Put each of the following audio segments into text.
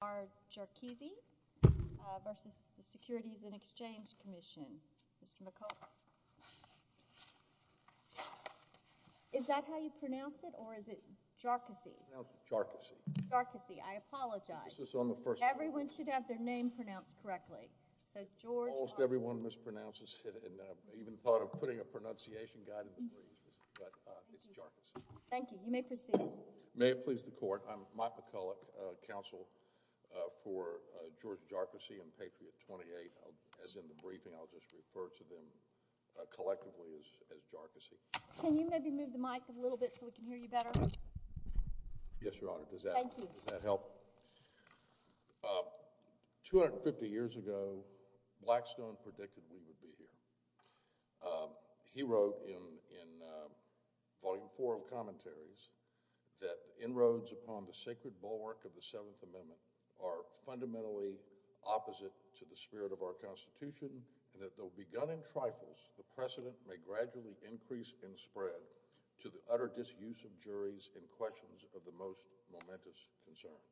Mark McCulloch, Counsel, U.S. Department of Justice of the U.S. Department of Justice, and I'll just refer to them collectively as Jarkesy. Can you maybe move the mic a little bit so we can hear you better? Yes, Your Honor. Thank you. Does that help? Two hundred and fifty years ago, Blackstone predicted we would be here. He wrote in Volume 4 of Commentaries that the inroads upon the sacred bulwark of the Seventh Amendment are fundamentally opposite to the spirit of our Constitution and that though begun in trifles, the precedent may gradually increase and spread to the utter disuse of juries in questions of the most momentous concerns.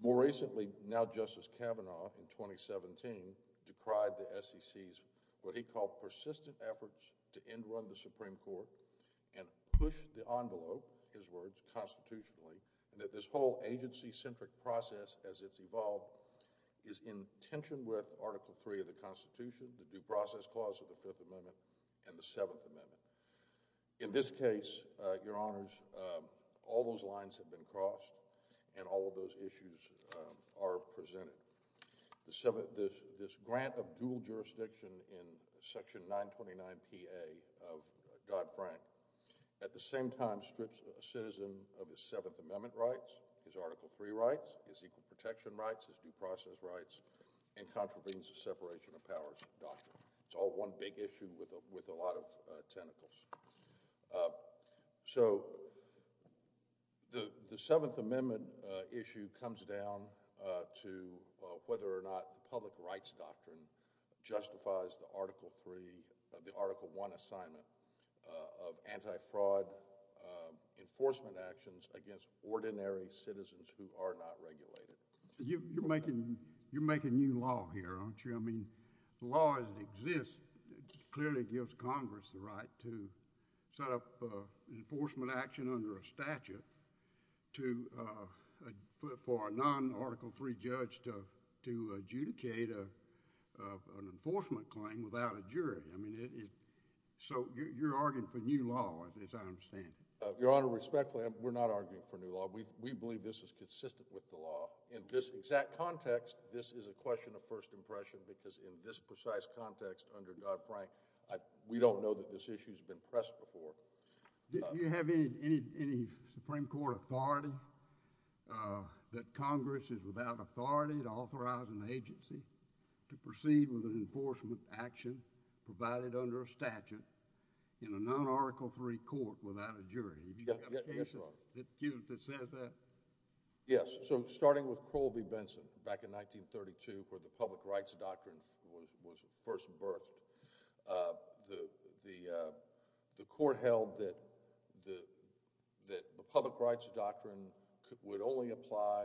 More recently, now Justice Kavanaugh, in 2017, decried the SEC's what he called persistent efforts to end-run the Supreme Court and push the envelope, his words, constitutionally, and that this whole agency-centric process as it's evolved is in tension with Article 3 of the Constitution, the Due Process Clause of the Fifth Amendment, and the Seventh Amendment. In this case, Your Honors, all those lines have been crossed and all of those issues are presented. This grant of dual jurisdiction in Section 929PA of Dodd-Frank at the same time strips a citizen of his Seventh Amendment rights, his Article 3 rights, his equal protection rights, his due process rights, and contravenes the separation of powers doctrine. It's all one big issue with a lot of tentacles. So, the Seventh Amendment issue comes down to whether or not the public rights doctrine justifies the Article 3, the Article 1 assignment of anti-fraud enforcement actions against ordinary citizens who are not regulated. You're making new law here, aren't you? I mean, the law as it exists clearly gives Congress the right to set up an enforcement action under a statute for a non-Article 3 judge to adjudicate an enforcement claim without a jury. I mean, so you're arguing for new law, as I understand it. Your Honor, respectfully, we're not arguing for new law. We believe this is consistent with the law. In this exact context, this is a question of first impression because in this precise context under Dodd-Frank, we don't know that this issue has been pressed before. Do you have any Supreme Court authority that Congress is without authority to authorize an agency to proceed with an enforcement action provided under a statute in a non-Article 3 court without a jury? Do you have a case that says that? Yes. So starting with Crowell v. Benson back in 1932 where the public rights doctrine was first birthed, the court held that the public rights doctrine would only apply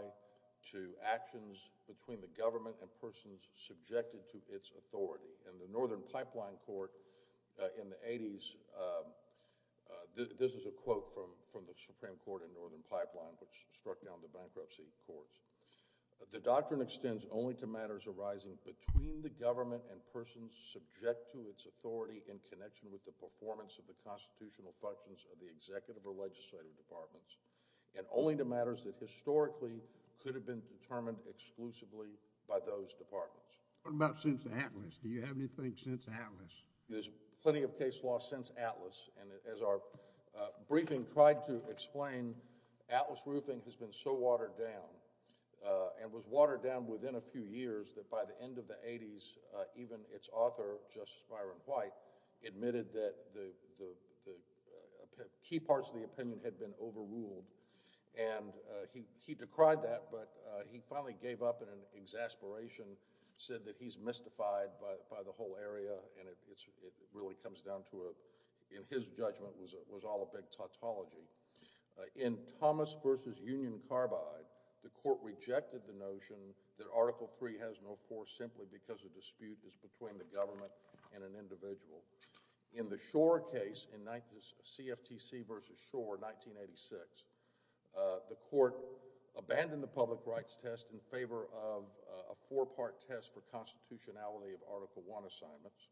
to actions between the government and persons subjected to its authority. In the Northern Pipeline Court in the 80s, this is a quote from the Supreme Court in Northern Pipeline which struck down the bankruptcy courts. The doctrine extends only to matters arising between the government and persons subject to its authority in connection with the performance of the constitutional functions of the executive or legislative departments and only to matters that historically could have been determined exclusively by those departments. What about since Atlas? Do you have anything since Atlas? There's plenty of case law since Atlas and as our briefing tried to explain, Atlas roofing has been so watered down and was watered down within a few years that by the end of the 80s even its author, Justice Byron White, admitted that the key parts of the opinion had been overruled and he decried that but he finally gave up in an exasperation, said that he's mystified by the whole area and it really comes down to in his judgment was all a big tautology. In Thomas v. Union Carbide, the court rejected the notion that Article III has no force simply because the dispute is between the government and an individual. In the Shore case in CFTC v. Shore, 1986, the court abandoned the public rights test in favor of a four-part test for constitutionality of Article I assignments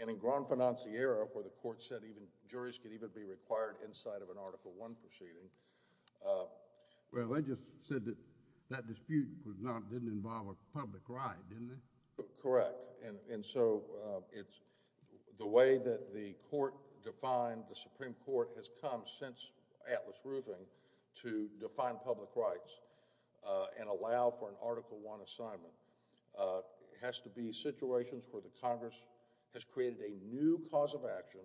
and in Grand Financiera where the court said even juries could even be required inside of an Article I proceeding. Well, they just said that that dispute didn't involve a public right, didn't it? Correct and so it's the way that the court defined the Supreme Court has come since Atlas Roofing to define public rights and allow for an Article I assignment. It has to be situations where the Congress has created a new cause of action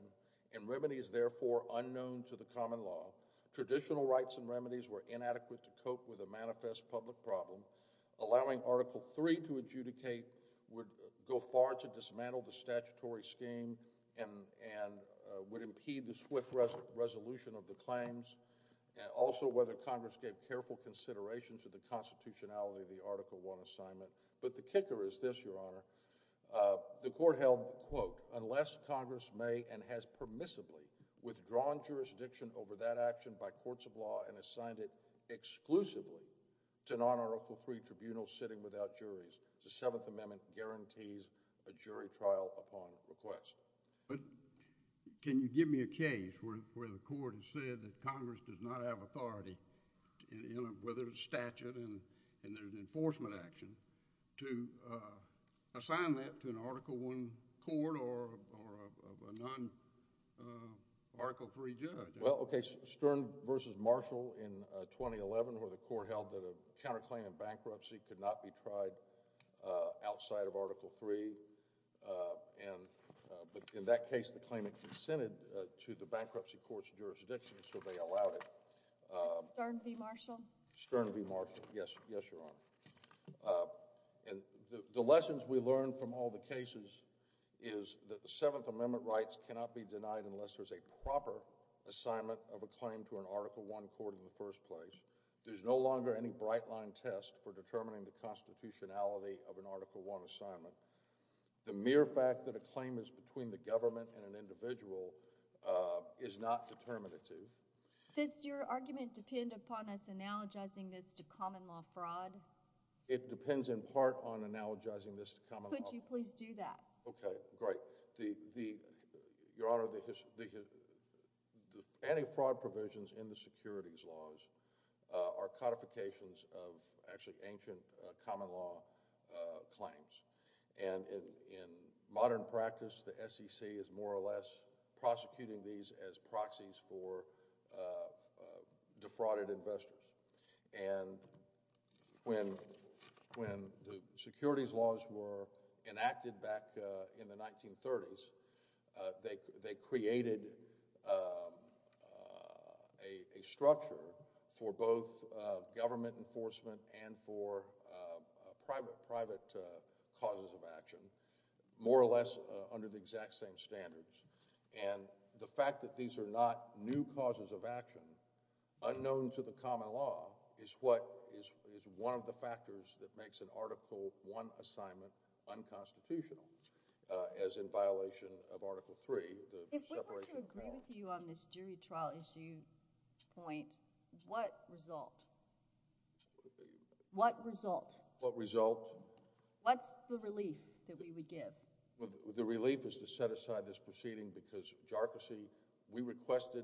and remedies therefore unknown to the common law. Traditional rights and remedies were inadequate to cope with the manifest public problem, allowing Article III to adjudicate would go far to dismantle the statutory scheme and would impede the swift resolution of the claims and also whether Congress gave careful consideration to the constitutionality of the Article I assignment. But the kicker is this, Your Honor. The court held, quote, unless Congress may and has permissibly withdrawn jurisdiction over that action by courts of law and assigned it exclusively to non-Article III requests. But can you give me a case where the court has said that Congress does not have authority whether it's statute and there's enforcement action to assign that to an Article I court or a non-Article III judge? Well, okay. Stern v. Marshall in 2011 where the court held that a counterclaim in bankruptcy could not be tried outside of Article III and in that case the claimant consented to the bankruptcy court's jurisdiction so they allowed it. That's Stern v. Marshall? Stern v. Marshall. Yes, Your Honor. And the lessons we learned from all the cases is that the Seventh Amendment rights cannot be denied unless there's a proper assignment of a claim to an Article I court in the first place. There's no longer any bright line test for determining the constitutionality of an Article I assignment. The mere fact that a claim is between the government and an individual is not determinative. Does your argument depend upon us analogizing this to common law fraud? It depends in part on analogizing this to common law fraud. Could you please do that? Okay, great. Your Honor, the anti-fraud provisions in the securities laws are codifications of actually ancient common law claims. And in modern practice, the SEC is more or less prosecuting these as proxies for defrauded investors. And when the securities laws were enacted back in the 1930s, they created a structure for both government enforcement and for private causes of action, more or less under the exact same standards. And the fact that these are not new causes of action unknown to the common law is what is one of the factors that makes an Article I assignment unconstitutional, as in violation of Article III, the separation of powers. If we were to agree with you on this jury trial issue point, what result? What result? What result? What's the relief that we would give? Well, the relief is to set aside this proceeding because, JARCASI, we requested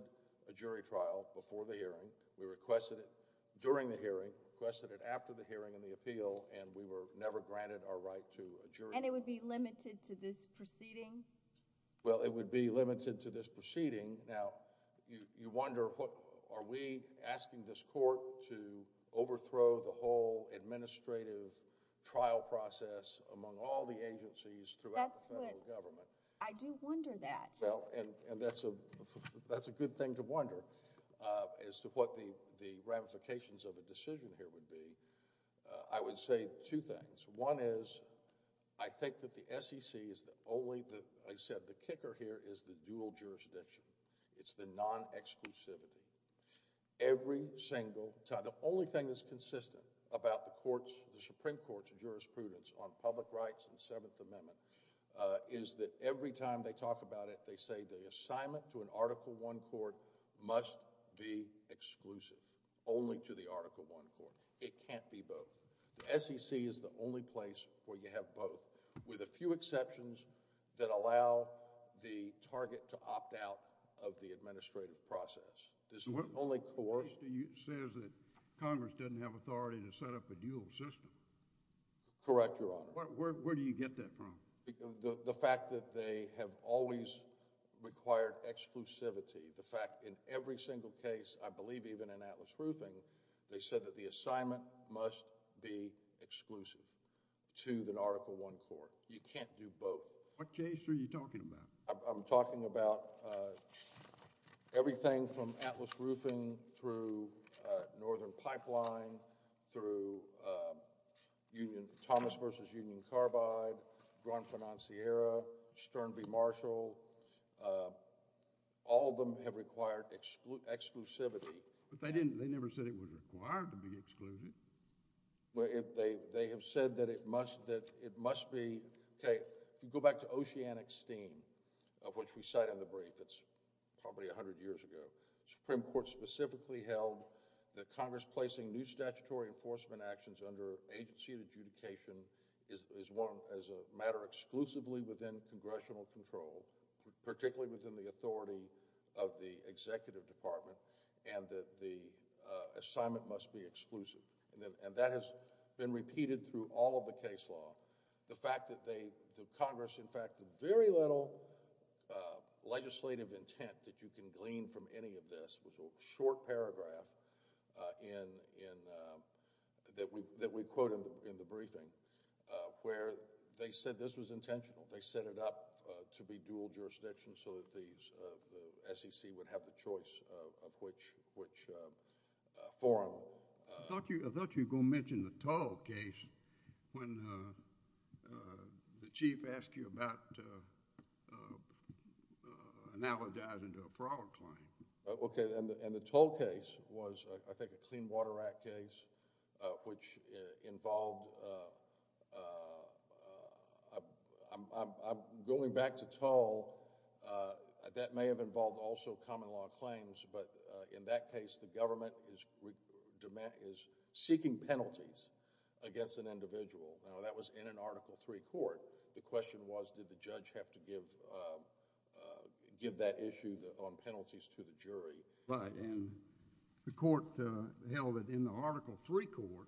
a jury trial before the hearing. We requested it during the hearing, requested it after the hearing and the appeal, and we were never granted our right to a jury trial. And it would be limited to this proceeding? Well, it would be limited to this proceeding. Now, you wonder, are we asking this court to overthrow the whole administrative trial process among all the agencies throughout the federal government? I do wonder that. Well, and that's a good thing to wonder as to what the ramifications of a decision here would be. I would say two things. One is I think that the SEC is the only, like I said, the kicker here is the dual jurisdiction. It's the non-exclusivity. Every single time, the only thing that's consistent about the Supreme Court's jurisprudence on public rights and the Seventh Amendment is that every time they talk about it, they say the assignment to an Article I court must be exclusive, only to the Article I court. It can't be both. The SEC is the only place where you have both, with a few exceptions that allow the target to opt out of the administrative process. This is the only court— It says that Congress doesn't have authority to set up a dual system. Correct, Your Honor. Where do you get that from? The fact that they have always required exclusivity, the fact in every single case, I believe even in Atlas Roofing, they said that the assignment must be exclusive to the Article I court. You can't do both. What case are you talking about? I'm talking about everything from Atlas Roofing through Northern Pipeline, through Thomas v. Union Carbide, Grand Financiera, Stern v. Marshall. All of them have required exclusivity. But they never said it was required to be exclusive. They have said that it must be— Okay, if you go back to Oceanic Steam, of which we cite in the brief, that's probably 100 years ago, the Supreme Court specifically held that Congress placing new statutory enforcement actions under agency of adjudication is a matter exclusively within congressional control, particularly within the authority of the executive department, and that the assignment must be exclusive. And that has been repeated through all of the case law. The fact that Congress, in fact, very little legislative intent that you can glean from any of this was a short paragraph that we quote in the briefing where they said this was intentional. They set it up to be dual jurisdiction so that the SEC would have the choice of which forum. I thought you were going to mention the Tull case when the chief asked you about analogizing to a fraud claim. Okay, and the Tull case was, I think, a Clean Water Act case, which involved— Going back to Tull, that may have involved also common law claims, but in that case, the government is seeking penalties against an individual. Now, that was in an Article III court. The question was did the judge have to give that issue on penalties to the jury. Right, and the court held that in the Article III court,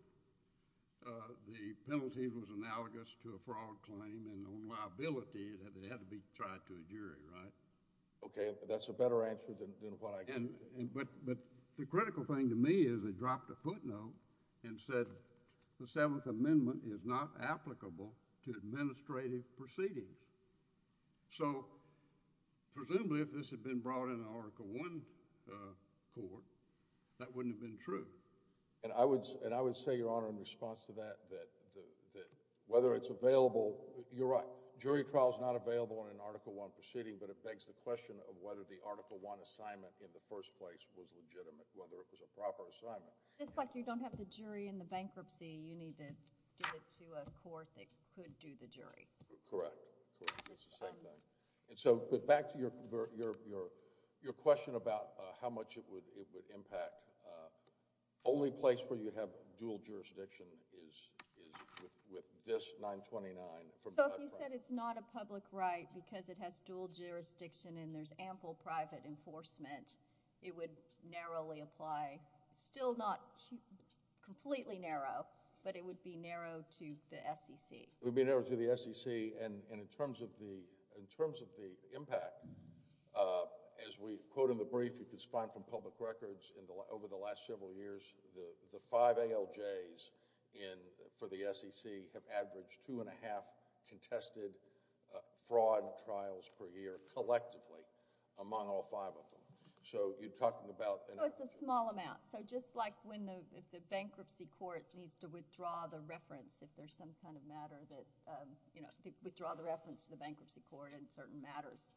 the penalty was analogous to a fraud claim, and on liability that it had to be tried to a jury, right? Okay, that's a better answer than what I get. But the critical thing to me is they dropped a footnote and said the Seventh Amendment is not applicable to administrative proceedings. So presumably if this had been brought in an Article I court, that wouldn't have been true. And I would say, Your Honor, in response to that, that whether it's available— You're right. Jury trial is not available in an Article I proceeding, but it begs the question of whether the Article I assignment in the first place was legitimate, whether it was a proper assignment. Just like you don't have the jury in the bankruptcy, you need to get it to a court that could do the jury. Correct. It's the same thing. And so back to your question about how much it would impact. The only place where you have dual jurisdiction is with this 929. So if you said it's not a public right because it has dual jurisdiction and there's ample private enforcement, it would narrowly apply. Still not completely narrow, but it would be narrow to the SEC. It would be narrow to the SEC. And in terms of the impact, as we quote in the brief, you can find from public records over the last several years, the five ALJs for the SEC have averaged 2.5 contested fraud trials per year collectively among all five of them. So you're talking about— So it's a small amount. So just like when the bankruptcy court needs to withdraw the reference if there's some kind of matter that—withdraw the reference to the bankruptcy court in certain matters.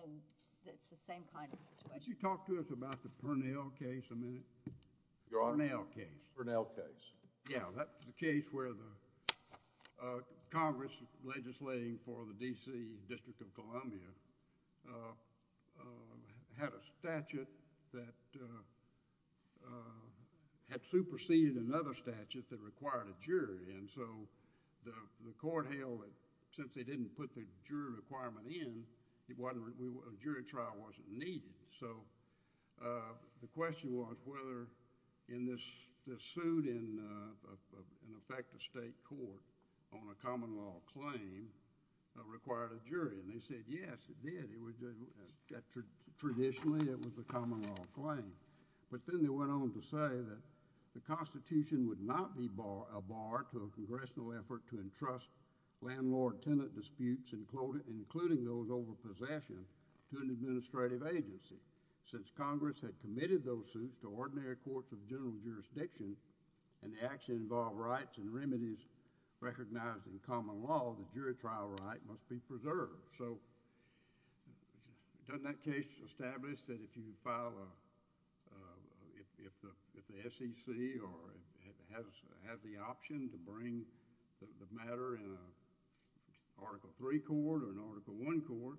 And it's the same kind of situation. Could you talk to us about the Purnell case a minute? Your Honor? Purnell case. Purnell case. Yeah. That's the case where the Congress legislating for the D.C. District of Columbia had a statute that had superseded another statute that required a jury. And so the court held that since they didn't put the jury requirement in, a jury trial wasn't needed. So the question was whether in this suit in effect a state court on a common law claim required a jury. And they said, yes, it did. Traditionally, it was a common law claim. But then they went on to say that the Constitution would not be a bar to a congressional effort to entrust landlord-tenant disputes, including those over possession, to an administrative agency. Since Congress had committed those suits to ordinary courts of general jurisdiction and the action involved rights and remedies recognized in common law, the jury trial right must be preserved. So doesn't that case establish that if the SEC has the option to bring the matter in an Article III court or an Article I court,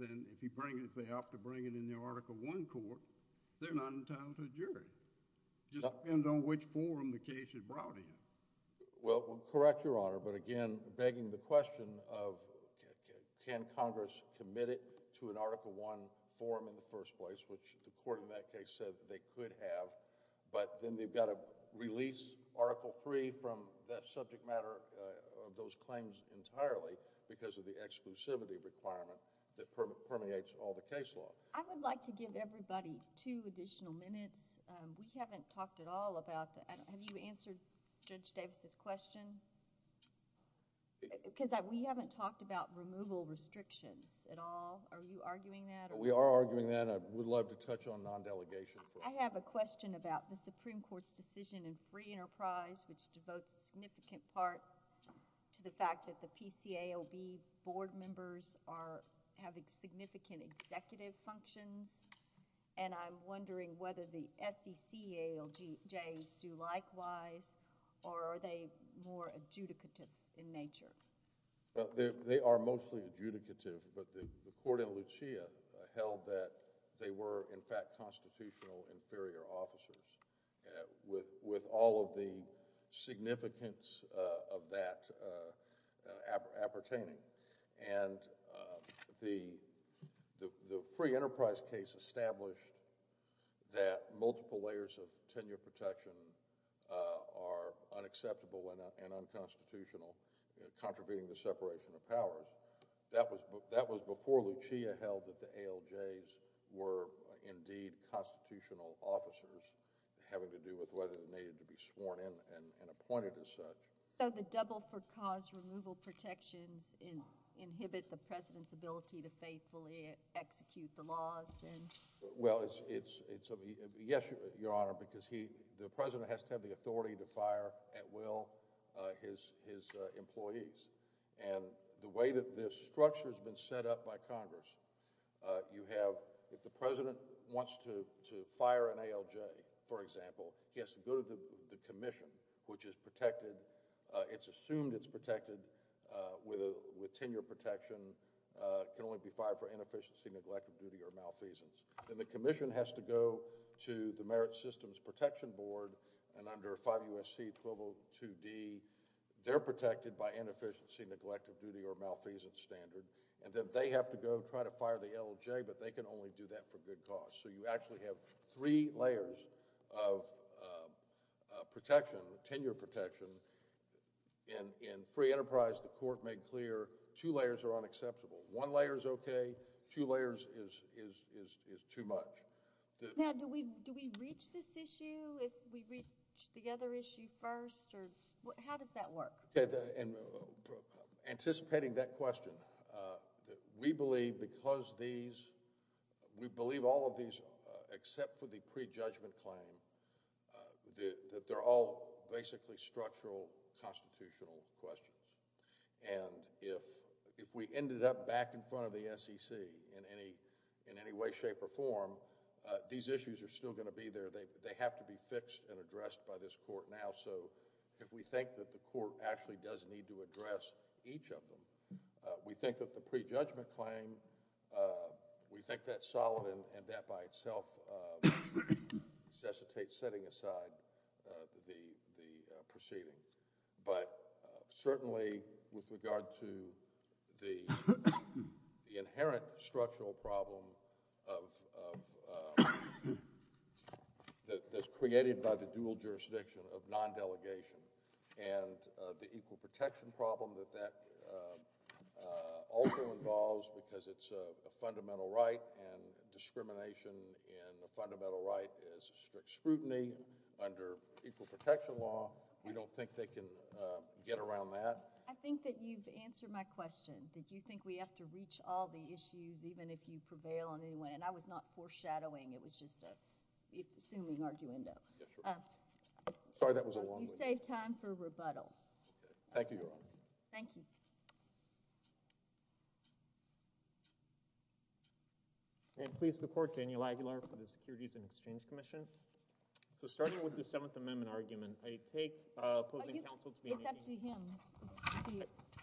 then if they opt to bring it in the Article I court, they're not entitled to a jury. It just depends on which forum the case is brought in. Well, correct, Your Honor. But again, begging the question of can Congress commit it to an Article I forum in the first place, which the court in that case said they could have. But then they've got to release Article III from that subject matter of those claims entirely because of the exclusivity requirement that permeates all the case law. I would like to give everybody two additional minutes. We haven't talked at all about that. Have you answered Judge Davis' question? Because we haven't talked about removal restrictions at all. Are you arguing that? We are arguing that. I would love to touch on non-delegation. I have a question about the Supreme Court's decision in free enterprise, which devotes a significant part to the fact that the PCAOB board members are having significant executive functions. I'm wondering whether the SECALJs do likewise or are they more adjudicative in nature? They are mostly adjudicative, but the court in Lucia held that they were, in fact, constitutional inferior officers with all of the significance of that appertaining. The free enterprise case established that multiple layers of tenure protection are unacceptable and unconstitutional, contributing to separation of powers. That was before Lucia held that the ALJs were indeed constitutional officers having to do with whether they needed to be sworn in and appointed as such. So the double-for-cause removal protections inhibit the President's ability to faithfully execute the laws, then? Well, yes, Your Honor, because the President has to have the authority to fire at will his employees. And the way that this structure has been set up by Congress, you have if the President wants to fire an ALJ, for example, he has to go to the Commission, which is protected. It's assumed it's protected with tenure protection. It can only be fired for inefficiency, neglect of duty, or malfeasance. Then the Commission has to go to the Merit Systems Protection Board, and under 5 U.S.C. 1202D, they're protected by inefficiency, neglect of duty, or malfeasance standard. And then they have to go try to fire the ALJ, but they can only do that for good cause. So you actually have three layers of protection, tenure protection. In free enterprise, the court made clear two layers are unacceptable. One layer is okay. Two layers is too much. Now, do we reach this issue if we reach the other issue first? How does that work? Anticipating that question, we believe because these – except for the prejudgment claim, that they're all basically structural constitutional questions. And if we ended up back in front of the SEC in any way, shape, or form, these issues are still going to be there. They have to be fixed and addressed by this court now. So if we think that the court actually does need to address each of them, we think that the prejudgment claim, we think that's solid and that by itself necessitates setting aside the proceeding. But certainly with regard to the inherent structural problem that's created by the dual jurisdiction of non-delegation and the equal protection problem that that also involves because it's a fundamental right and discrimination in a fundamental right is strict scrutiny under equal protection law. We don't think they can get around that. I think that you've answered my question. Did you think we have to reach all the issues even if you prevail on any one? And I was not foreshadowing. It was just an assuming arguendo. Sorry, that was a long one. You saved time for rebuttal. Thank you, Your Honor. Thank you. And please support Daniel Aguilar for the Securities and Exchange Commission. So starting with the Seventh Amendment argument, I take opposing counsel to be making— It's up to him.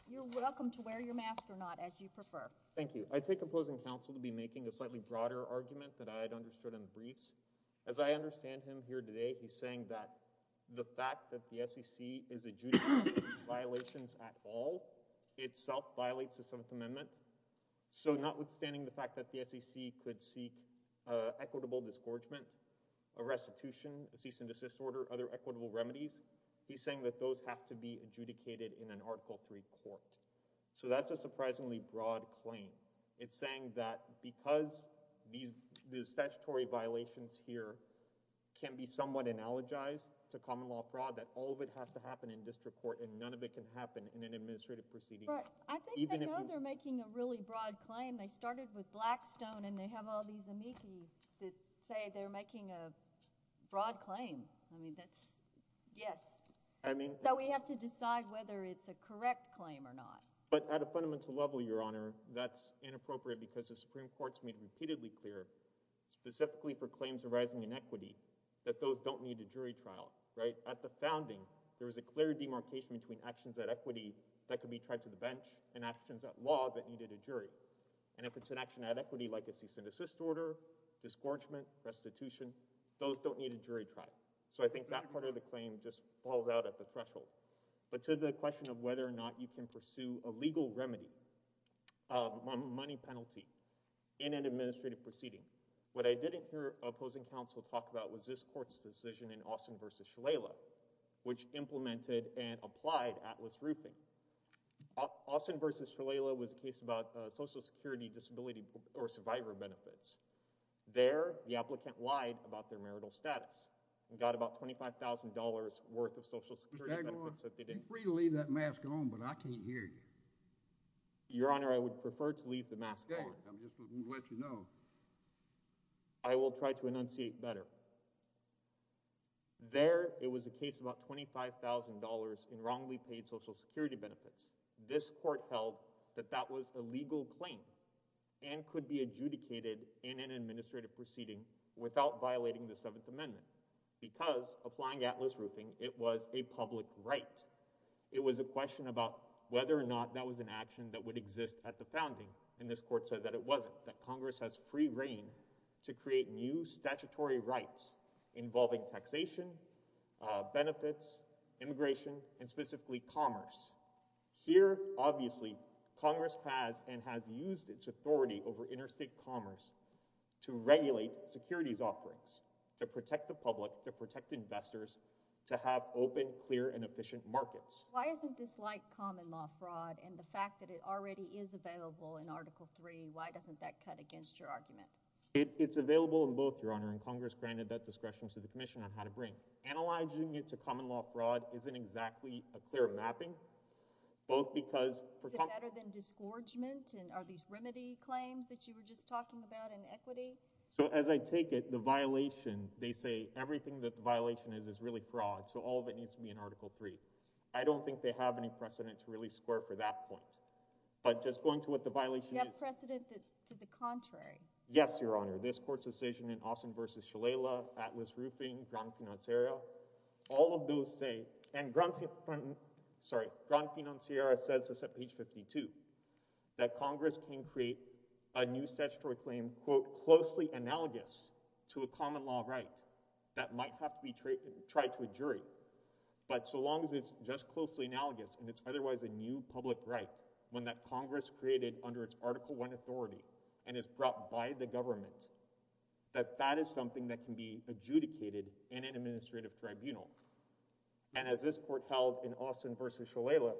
You're welcome to wear your mask or not as you prefer. Thank you. I take opposing counsel to be making a slightly broader argument that I had understood in the briefs. As I understand him here today, he's saying that the fact that the SEC is adjudicating violations at all itself violates the Seventh Amendment. So notwithstanding the fact that the SEC could seek equitable disgorgement, a restitution, a cease and desist order, other equitable remedies, he's saying that those have to be adjudicated in an Article III court. So that's a surprisingly broad claim. It's saying that because the statutory violations here can be somewhat analogized to common law fraud, that all of it has to happen in district court and none of it can happen in an administrative proceeding. Right. I think they know they're making a really broad claim. They started with Blackstone and they have all these amici that say they're making a broad claim. I mean, that's—yes. I mean— So we have to decide whether it's a correct claim or not. But at a fundamental level, Your Honor, that's inappropriate because the Supreme Court's made repeatedly clear, specifically for claims arising in equity, that those don't need a jury trial, right? At the founding, there was a clear demarcation between actions at equity that could be tried to the bench and actions at law that needed a jury. And if it's an action at equity like a cease and desist order, disgorgement, restitution, those don't need a jury trial. So I think that part of the claim just falls out at the threshold. But to the question of whether or not you can pursue a legal remedy, a money penalty in an administrative proceeding, what I didn't hear opposing counsel talk about was this court's decision in Austin v. Shalala, which implemented and applied Atlas Roofing. Austin v. Shalala was a case about Social Security disability or survivor benefits. There, the applicant lied about their marital status and got about $25,000 worth of Social Security benefits that they didn't— Mr. Dagmar, you're free to leave that mask on, but I can't hear you. Your Honor, I would prefer to leave the mask on. Okay. I'm just going to let you know. I will try to enunciate better. There, it was a case about $25,000 in wrongly paid Social Security benefits. This court held that that was a legal claim and could be adjudicated in an administrative proceeding without violating the Seventh Amendment because applying Atlas Roofing, it was a public right. It was a question about whether or not that was an action that would exist at the founding, and this court said that it wasn't, but that Congress has free reign to create new statutory rights involving taxation, benefits, immigration, and specifically commerce. Here, obviously, Congress has and has used its authority over interstate commerce to regulate securities offerings to protect the public, to protect investors, to have open, clear, and efficient markets. Why isn't this like common law fraud? And the fact that it already is available in Article III, why doesn't that cut against your argument? It's available in both, Your Honor, and Congress granted that discretion to the Commission on how to bring. Analyzing it to common law fraud isn't exactly a clear mapping. Is it better than disgorgement? And are these remedy claims that you were just talking about in equity? So as I take it, the violation, they say everything that the violation is is really fraud, so all of it needs to be in Article III. I don't think they have any precedent to really square for that point. But just going to what the violation is... You have precedent to the contrary. Yes, Your Honor. This court's decision in Austin v. Shalala, Atlas Roofing, Gran Financiera, all of those say, and Gran Financiera says this at page 52, that Congress can create a new statutory claim quote, closely analogous to a common law right that might have to be tried to a jury. But so long as it's just closely analogous and it's otherwise a new public right, one that Congress created under its Article I authority and is brought by the government, that that is something that can be adjudicated in an administrative tribunal. And as this court held in Austin v. Shalala,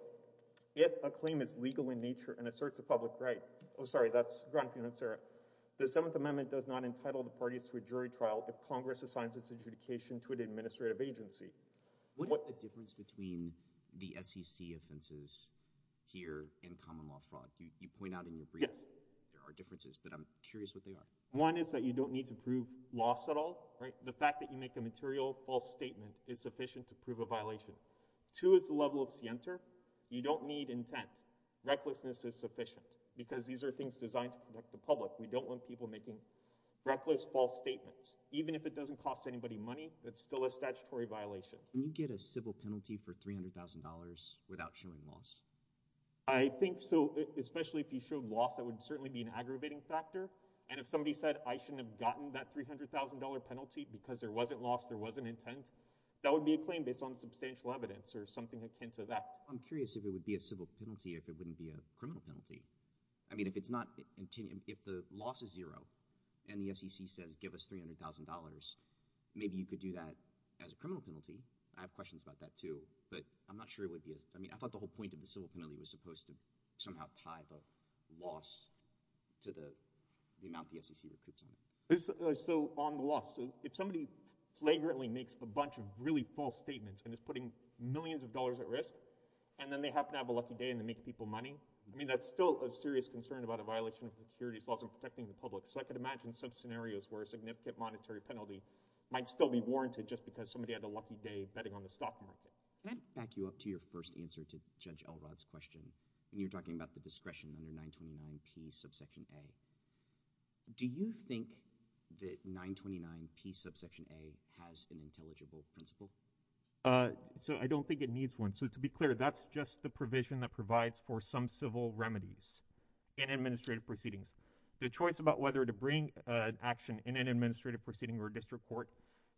if a claim is legal in nature and asserts a public right, oh, sorry, that's Gran Financiera, the Seventh Amendment does not entitle the parties to a jury trial if Congress assigns its adjudication to an administrative agency. What is the difference between the SEC offenses here and common law fraud? You point out in your briefs there are differences, but I'm curious what they are. One is that you don't need to prove loss at all. The fact that you make a material false statement is sufficient to prove a violation. Two is the level of scienter. You don't need intent. Recklessness is sufficient because these are things designed to protect the public. We don't want people making reckless false statements. Even if it doesn't cost anybody money, it's still a statutory violation. Can you get a civil penalty for $300,000 without showing loss? I think so, especially if you showed loss. That would certainly be an aggravating factor. And if somebody said, I shouldn't have gotten that $300,000 penalty because there wasn't loss, there wasn't intent, that would be a claim based on substantial evidence or something akin to that. I'm curious if it would be a civil penalty if it wouldn't be a criminal penalty. I mean, if the loss is zero and the SEC says give us $300,000, maybe you could do that as a criminal penalty. I have questions about that too, but I'm not sure it would be. I thought the whole point of the civil penalty was supposed to somehow tie the loss to the amount the SEC recoups on it. So on the loss, if somebody flagrantly makes a bunch of really false statements and is putting millions of dollars at risk, and then they happen to have a lucky day and they make people money, I mean, that's still a serious concern about a violation of securities laws and protecting the public. So I could imagine some scenarios where a significant monetary penalty might still be warranted just because somebody had a lucky day betting on the stock market. Can I back you up to your first answer to Judge Elrod's question when you were talking about the discretion under 929P subsection A? Do you think that 929P subsection A has an intelligible principle? So I don't think it needs one. So to be clear, that's just the provision that provides for some civil remedies in administrative proceedings. The choice about whether to bring an action in an administrative proceeding or a district court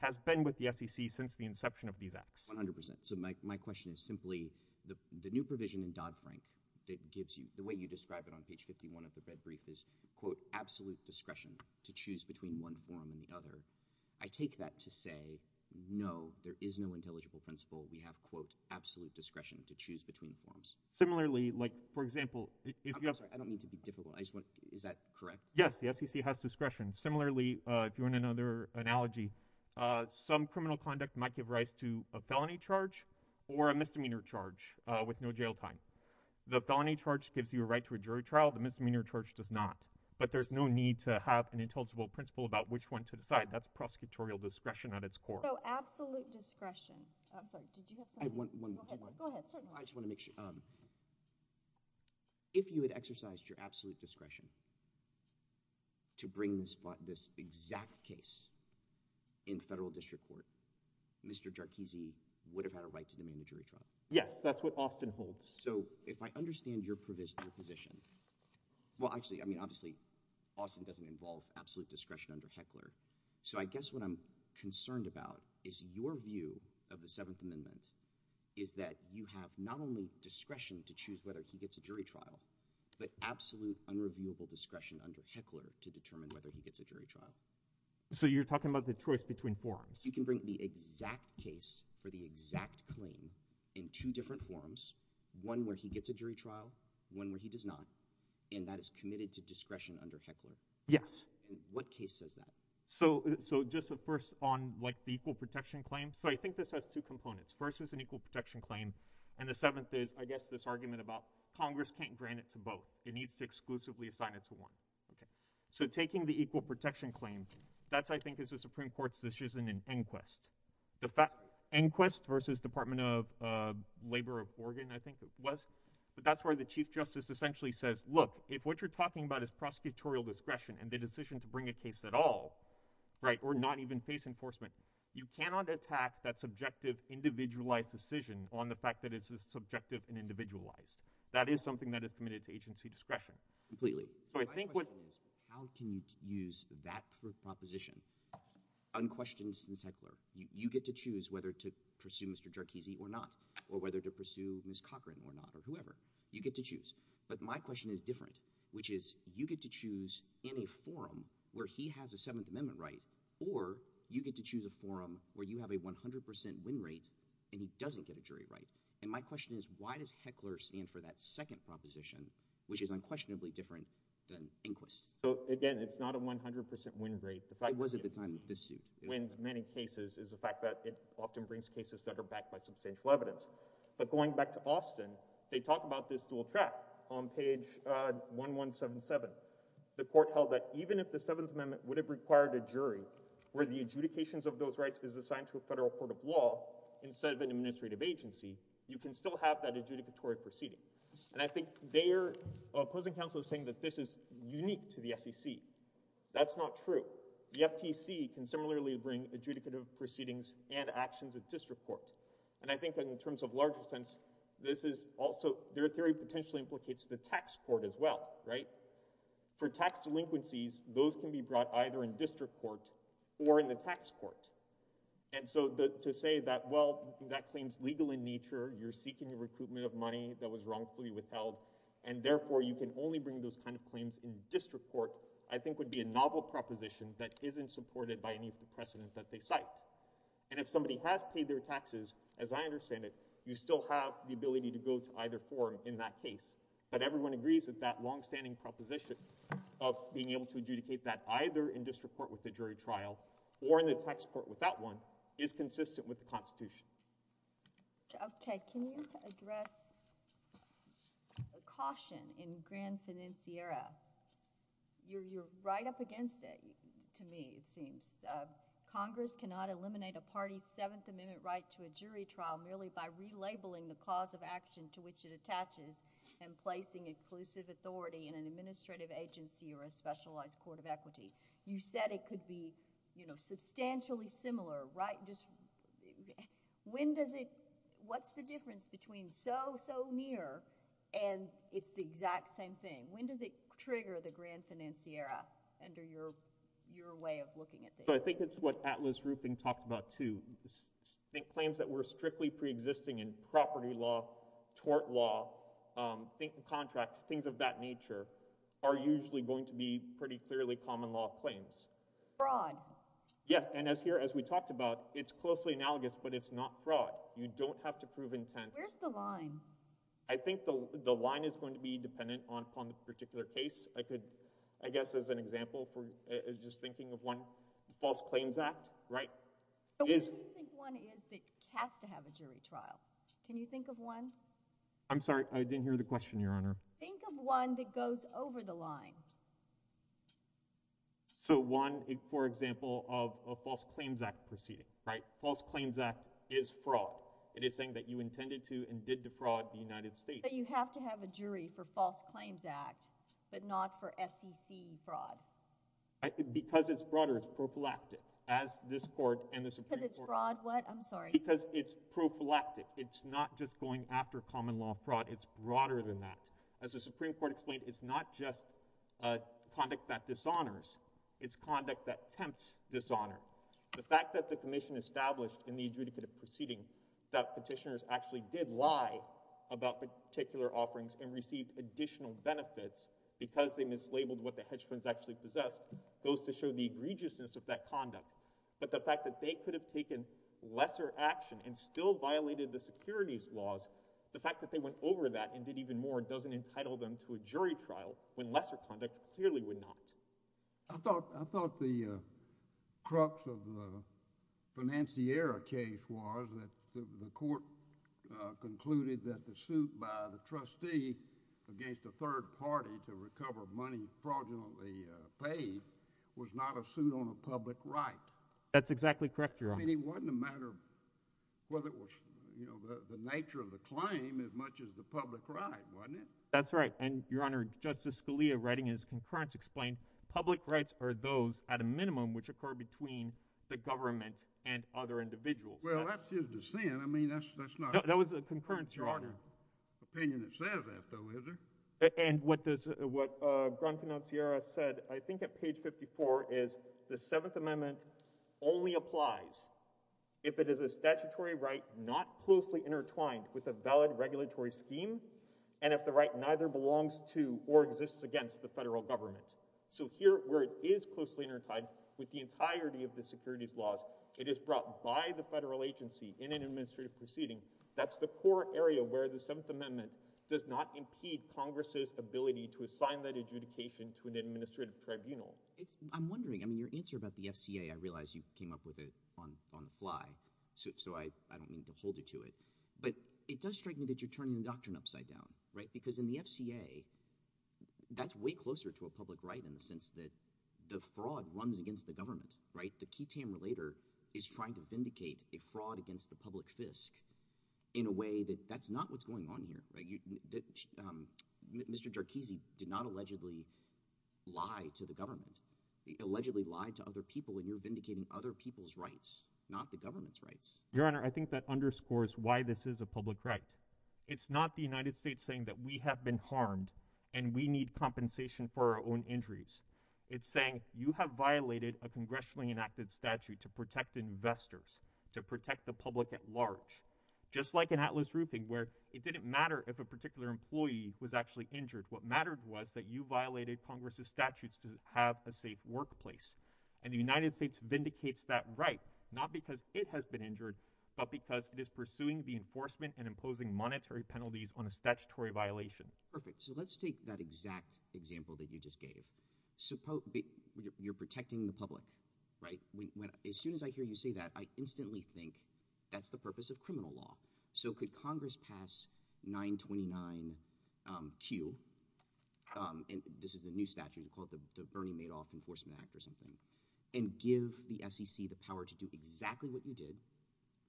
has been with the SEC since the inception of these acts. 100%. So my question is simply, the new provision in Dodd-Frank that gives you, the way you describe it on page 51 of the red brief is, quote, absolute discretion to choose between one form and the other. I take that to say, no, there is no intelligible principle. We have, quote, absolute discretion to choose between forms. Similarly, like, for example... I'm sorry, I don't mean to be difficult. Is that correct? Yes, the SEC has discretion. Similarly, if you want another analogy, some criminal conduct might give rise to a felony charge or a misdemeanor charge with no jail time. The felony charge gives you a right to a jury trial. The misdemeanor charge does not. But there's no need to have an intelligible principle about which one to decide. That's prosecutorial discretion at its core. So absolute discretion. I'm sorry, did you have something? Go ahead. I just want to make sure. If you had exercised your absolute discretion to bring this exact case in federal district court, Mr. Jarchese would have had a right to demand a jury trial. Yes, that's what Austin holds. So if I understand your position... Well, actually, I mean, obviously, Austin doesn't involve absolute discretion under Heckler. So I guess what I'm concerned about is your view of the Seventh Amendment is that you have not only discretion to choose whether he gets a jury trial, but absolute unreviewable discretion under Heckler to determine whether he gets a jury trial. So you're talking about the choice between forms. You can bring the exact case for the exact claim in two different forms, one where he gets a jury trial, one where he does not, and that is committed to discretion under Heckler. Yes. And what case says that? So just first on, like, the equal protection claim. So I think this has two components. First is an equal protection claim, and the seventh is, I guess, this argument about Congress can't grant it to both. It needs to exclusively assign it to one. So taking the equal protection claim, that, I think, is a Supreme Court's decision in Enquest. Enquest versus Department of Labor of Oregon, I think it was. But that's where the chief justice essentially says, look, if what you're talking about is prosecutorial discretion and the decision to bring a case at all, right, or not even face enforcement, you cannot attack that subjective, individualized decision on the fact that it's just subjective and individualized. That is something that is committed to agency discretion. Completely. So I think what— So my question is, how can you use that proposition, unquestioned since Heckler? You get to choose whether to pursue Mr. Jarchese or not, or whether to pursue Ms. Cochran or not, or whoever. You get to choose. But my question is different, which is, you get to choose in a forum where he has a Seventh Amendment right, or you get to choose a forum where you have a 100% win rate and he doesn't get a jury right. And my question is, why does Heckler stand for that second proposition, which is unquestionably different than Enquest? Again, it's not a 100% win rate. It was at the time of this suit. It wins many cases. It's the fact that it often brings cases that are backed by substantial evidence. But going back to Austin, they talk about this dual track on page 1177. The court held that even if the Seventh Amendment would have required a jury where the adjudications of those rights is assigned to a federal court of law instead of an administrative agency, you can still have that adjudicatory proceeding. And I think their opposing counsel is saying that this is unique to the SEC. That's not true. The FTC can similarly bring adjudicative proceedings and actions at district court. And I think in terms of larger sense, their theory potentially implicates the tax court as well, right? For tax delinquencies, those can be brought either in district court or in the tax court. And so to say that, well, that claim's legal in nature, you're seeking a recruitment of money that was wrongfully withheld, and therefore you can only bring those kind of claims in district court, I think would be a novel proposition that isn't supported by any of the precedent that they cite. And if somebody has paid their taxes, as I understand it, you still have the ability to go to either forum in that case. But everyone agrees that that longstanding proposition of being able to adjudicate that either in district court with the jury trial or in the tax court without one is consistent with the Constitution. Okay. Can you address a caution in Grand Financiera? You're right up against it to me, it seems. Congress cannot eliminate a party's Seventh Amendment right to a jury trial merely by relabeling the cause of action to which it attaches and placing inclusive authority in an administrative agency or a specialized court of equity. You said it could be, you know, substantially similar, right? When does it, what's the difference between so, so near and it's the exact same thing? When does it trigger the Grand Financiera under your way of looking at this? I think it's what Atlas Rupin talked about too. Claims that were strictly preexisting in property law, tort law, contracts, things of that nature are usually going to be pretty clearly common law claims. Fraud. Yes, and as here, as we talked about, it's closely analogous, but it's not fraud. You don't have to prove intent. Where's the line? I think the line is going to be dependent on the particular case. I could, I guess as an example, just thinking of one false claims act, right? So where do you think one is that has to have a jury trial? Can you think of one? I'm sorry, I didn't hear the question, Your Honor. Think of one that goes over the line. So one, for example, of a false claims act proceeding, right? False claims act is fraud. It is saying that you intended to and did defraud the United States. But you have to have a jury for false claims act, but not for SEC fraud. Because it's fraud or it's prophylactic, as this court and the Supreme Court. Because it's fraud, what? I'm sorry. Because it's prophylactic. It's not just going after common law fraud. It's broader than that. As the Supreme Court explained, it's not just conduct that dishonors. It's conduct that tempts dishonor. The fact that the commission established in the adjudicative proceeding that petitioners actually did lie about particular offerings and received additional benefits because they mislabeled what the hedge funds actually possessed goes to show the egregiousness of that conduct. But the fact that they could have taken lesser action and still violated the securities laws, the fact that they went over that and did even more doesn't entitle them to a jury trial, when lesser conduct clearly would not. I thought the crux of the Financiera case was that the court concluded that the suit by the trustee against a third party to recover money fraudulently paid was not a suit on a public right. That's exactly correct, Your Honor. I mean, it wasn't a matter of whether it was, you know, the nature of the claim as much as the public right, wasn't it? That's right. And, Your Honor, Justice Scalia writing in his concurrence explained public rights are those, at a minimum, which occur between the government and other individuals. Well, that's just a sin. I mean, that's not... No, that was a concurrence, Your Honor. ...charter opinion itself, though, is there? And what does... what Grand Financiera said, I think, at page 54, is the Seventh Amendment only applies if it is a statutory right not closely intertwined with a valid regulatory scheme and if the right neither belongs to or exists against the federal government. So here, where it is closely intertwined with the entirety of the securities laws, it is brought by the federal agency in an administrative proceeding. That's the core area where the Seventh Amendment does not impede Congress's ability to assign that adjudication to an administrative tribunal. It's... I'm wondering... I mean, your answer about the FCA, I realize you came up with it on the fly, so I don't mean to hold you to it, but it does strike me that you're turning the doctrine upside down, right, because in the FCA, that's way closer to a public right in the sense that the fraud runs against the government, right? The qui tam relator is trying to vindicate a fraud against the public fisc in a way that that's not what's going on here, right? Mr. Jarchese did not allegedly lie to the government. He allegedly lied to other people, and you're vindicating other people's rights, not the government's rights. Your Honor, I think that underscores why this is a public right. It's not the United States saying that we have been harmed and we need compensation for our own injuries. It's saying, you have violated a congressionally enacted statute to protect investors, to protect the public at large. Just like in Atlas Roofing, where it didn't matter if a particular employee was actually injured. What mattered was that you violated Congress' statutes to have a safe workplace. And the United States vindicates that right, not because it has been injured, but because it is pursuing the enforcement and imposing monetary penalties on a statutory violation. Perfect. So let's take that exact example that you just gave. You're protecting the public, right? As soon as I hear you say that, I instantly think that's the purpose of criminal law. So could Congress pass 929Q and this is a new statute, call it the Bernie Madoff Enforcement Act or something, and give the SEC the power to do exactly what you did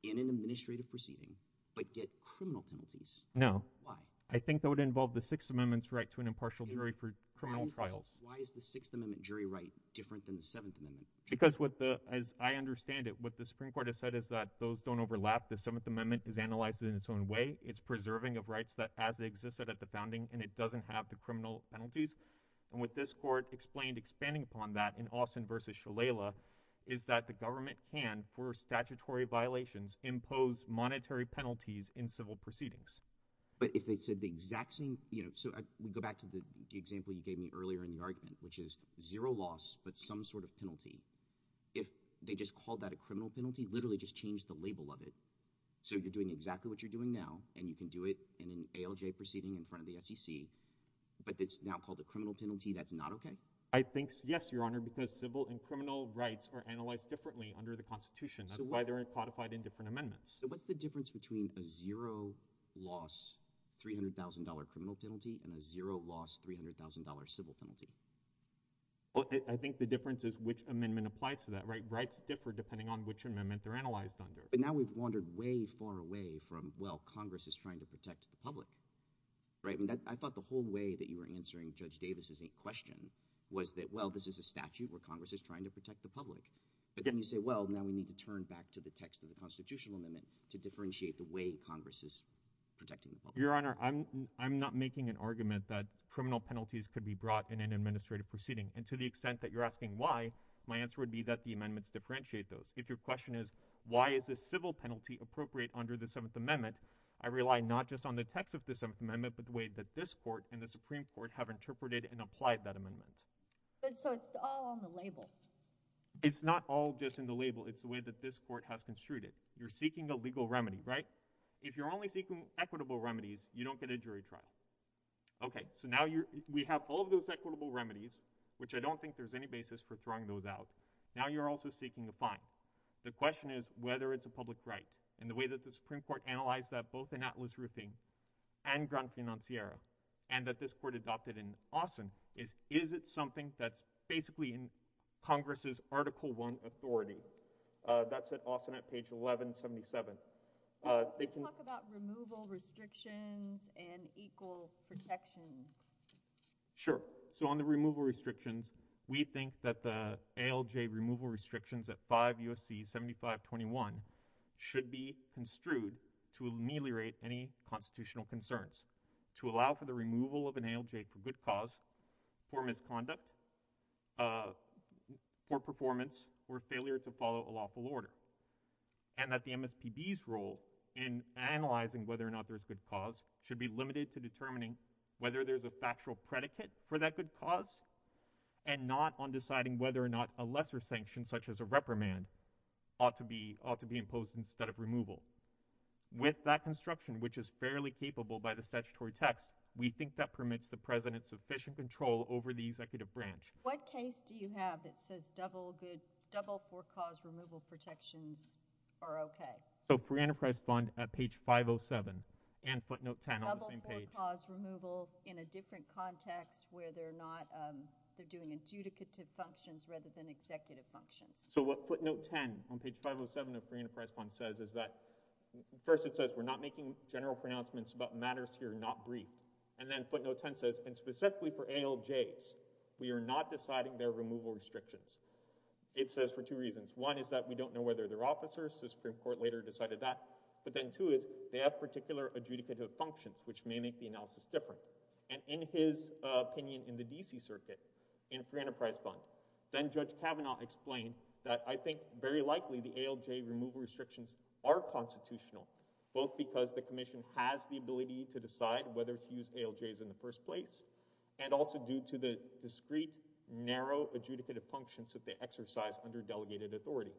in an administrative proceeding, but get criminal penalties? No. Why? I think that would involve the Sixth Amendment's right to an impartial jury for criminal trials. Why is the Sixth Amendment jury right different than the Seventh Amendment? Because as I understand it, what the Supreme Court has said is that those don't overlap. The Seventh Amendment is analyzed in its own way. It's preserving of rights that as existed at the founding and it doesn't have the criminal penalties. And what this court explained expanding upon that in Austin v. Shalala is that the government can, for statutory violations, impose monetary penalties in civil proceedings. But if they said the exact same, you know, so we go back to the example you gave me earlier in the argument, which is zero loss but some sort of penalty. If they just called that a criminal penalty, literally just changed the label of it. So you're doing exactly what you're doing now and you can do it in an ALJ proceeding in front of the SEC but it's now called a criminal penalty. That's not okay? I think, yes, Your Honor, because civil and criminal rights are analyzed differently under the Constitution. That's why they're codified in different amendments. So what's the difference between a zero loss $300,000 criminal penalty and a zero loss $300,000 civil penalty? I think the difference is which amendment applies to that, right? Rights differ depending on which amendment they're analyzed under. But now we've wandered way far away from, well, Congress is trying to protect the public. I thought the whole way that you were answering Judge Davis's question was that, well, this is a statute where Congress is trying to protect the public. But then you say, well, now we need to turn back to the text of the constitutional amendment to differentiate the way Congress is protecting the public. Your Honor, I'm not making an argument that criminal penalties could be brought in an administrative proceeding. And to the extent that you're asking why, my answer would be that the amendments differentiate those. If your question is, why is a civil penalty appropriate under the Seventh Amendment, I rely not just on the text of the Seventh Amendment but the way that this Court and the Supreme Court have interpreted and applied that amendment. But so it's all on the label. It's not all just in the label. It's the way that this Court has construed it. You're seeking a legal remedy, right? If you're only seeking equitable remedies, you don't get a jury trial. Okay. So now you're, we have all of those equitable remedies, which I don't think there's any basis for throwing those out. Now you're also seeking a fine. The question is whether it's a public right. And the way that the Supreme Court analyzed that both in Atlas Roofing and Grand Financiera and that this Court adopted in Austin is, is it something that's basically in Congress' Article I authority? That's at Austin at page 1177. They can... Can you talk about removal restrictions and equal protection? Sure. So on the removal restrictions, we think that the ALJ removal restrictions at 5 U.S.C. 7521 should be construed to ameliorate any constitutional concerns. To allow for the removal of an ALJ for good cause, for misconduct, poor performance, or failure to follow a lawful order. And that the MSPB's role in analyzing whether or not there's good cause should be limited to determining whether there's a factual predicate for that good cause and not on deciding whether or not a lesser sanction such as a reprimand ought to be, ought to be imposed instead of removal. With that construction, which is fairly capable by the statutory text, we think that permits the president sufficient control over the executive branch. What case do you have that says double good, double poor cause removal protections are okay? So free enterprise fund at page 507 and footnote 10 on the same page. Double poor cause removal in a different context where they're not, they're doing adjudicative functions rather than executive functions. So what footnote 10 on page 507 of free enterprise fund says is that, first it says we're not making general pronouncements about matters here not briefed. And then footnote 10 says and specifically for ALJs we are not deciding their removal restrictions. It says for two reasons. One is that we don't know whether they're officers. The Supreme Court later decided that. But then two is they have particular adjudicative functions which may make the analysis different. And in his opinion in the DC circuit in free enterprise fund, then Judge Kavanaugh explained that I think very likely the ALJ removal restrictions are constitutional both because the commission has the ability to decide whether to use ALJs in the first place and also due to the discreet narrow adjudicative functions that they exercise under delegated authority.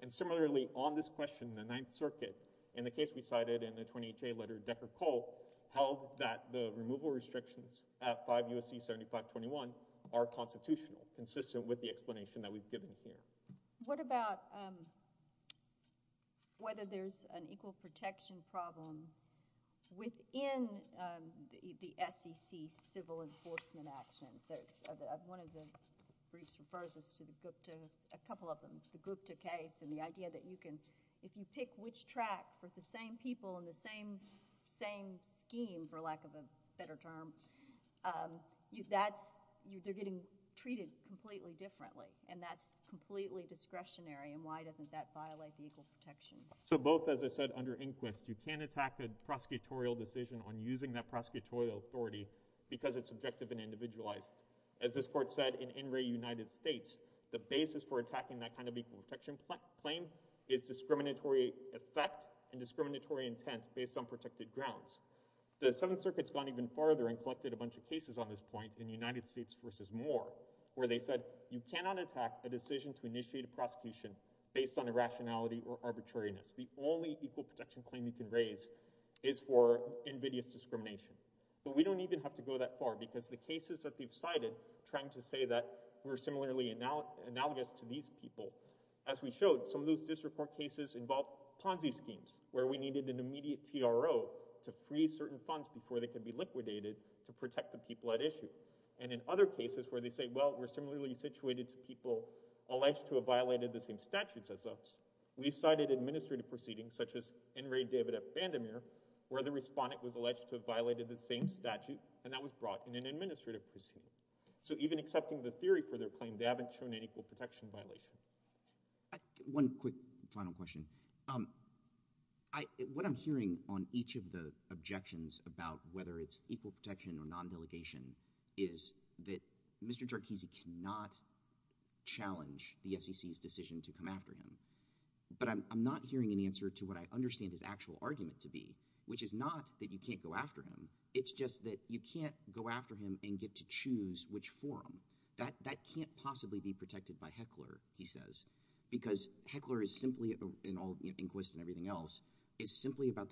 And similarly on this question in the 9th circuit in the case we cited in the 28J letter Decker-Cole held that the removal restrictions at 5 U.S.C. 7521 are constitutional consistent with the explanation that we've given here. So what about whether there's an equal protection problem within the SEC civil enforcement actions? One of the briefs refers us to the Gupta, a couple of them, the Gupta case and the idea that you can, if you pick which track for the same people in the same scheme for lack of a better term, that's, they're getting treated completely differently and that's completely discretionary and why doesn't that violate the equal protection? So both, as I said, under inquest, you can't attack the prosecutorial decision on using that prosecutorial authority because it's subjective and individualized. As this court said in NRA United States, the basis for attacking that kind of equal protection claim is discriminatory effect and discriminatory intent based on protected grounds. The Seventh Circuit's gone even farther and collected a bunch of cases on this point in United States versus Moore where they said you cannot attack a decision to initiate a prosecution based on irrationality or arbitrariness. The only equal protection claim you can raise is for invidious discrimination. But we don't even have to go that far because the cases that we've cited trying to say that we're similarly analogous to these people. As we showed, some of those cases involved Ponzi schemes where we needed an immediate TRO to free certain funds before they could be liquidated to protect the people at issue. And in other cases where they say, well, we're similarly situated to people alleged to have violated the same statutes as us, we've cited administrative proceedings where the respondent was alleged to have violated the same statute and that was brought in an administrative proceeding. So even accepting the theory for their claim, they haven't shown an equal protection violation. One quick final question. What I'm hearing on each of the objections about whether it's equal protection or non-delegation is that it's a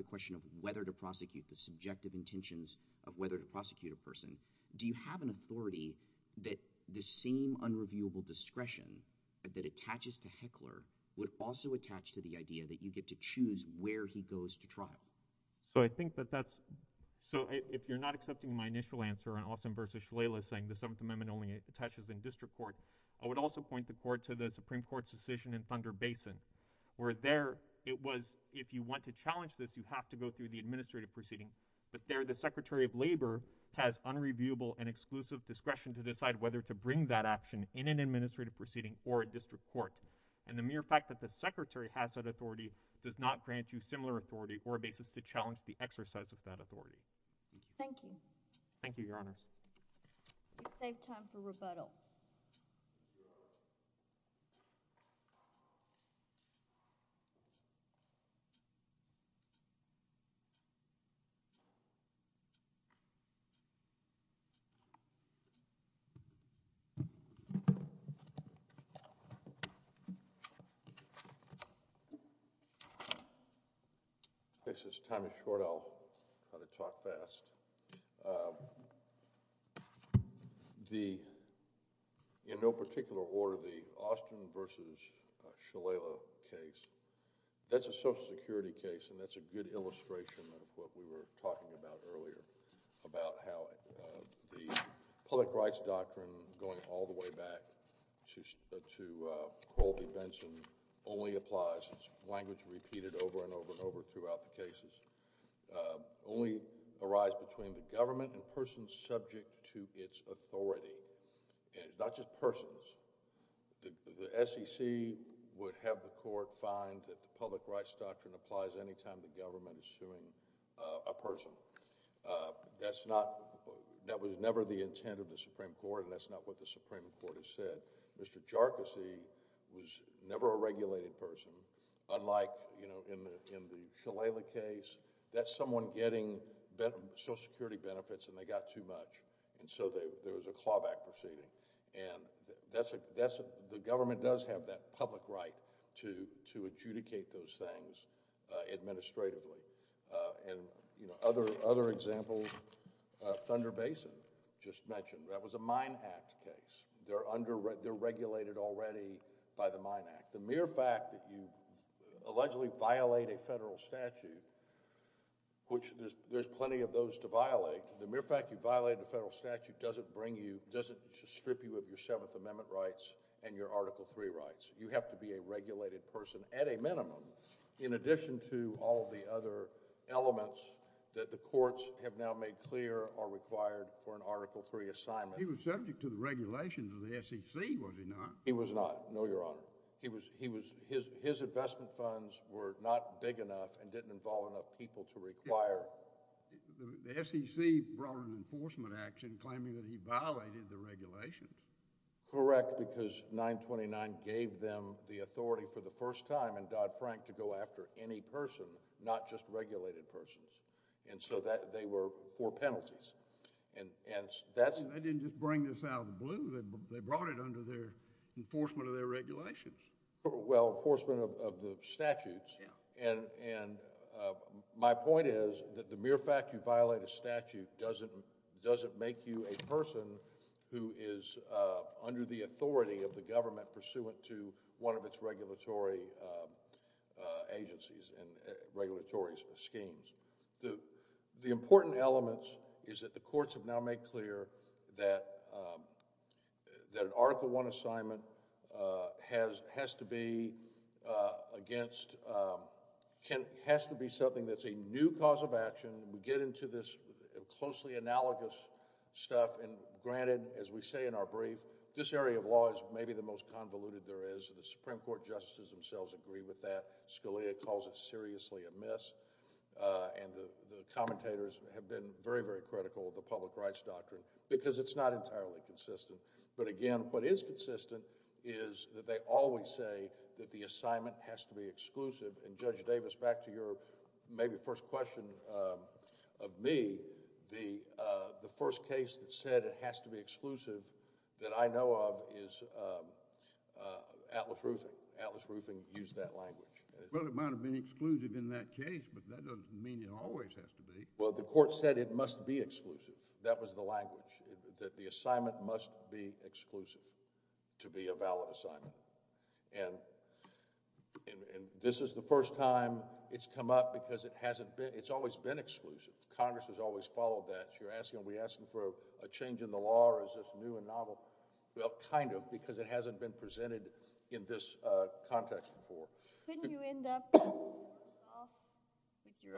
question of whether to prosecute a person. Do you have an authority that the same unreviewable discretion that attaches to Heckler would also attach to the idea that you get to choose where he goes to trial? So I think that that's question of whether to bring that action in an administrative proceeding or a district court. And the mere fact that the Secretary has that authority does not grant you similar authority or a basis to challenge the exercise of that authority. Thank you. Thank you, Your Honors. We've saved time for rebuttal. I'll try to talk fast. The, in no particular order, the Austin v. Shalala case, that's a Social Security case and that's a good illustration of what we were talking about earlier about how it was of what we were talking about. in this case. And the case is submitted. Thank you. Thank you. Thank you. Thank you. Thank you. Thank you. Thank you. Thank you. Thank you. Thank you. Thank you. Thank you. Thank you. Thank you. Thank you. Thank you. Thank you. Thank you.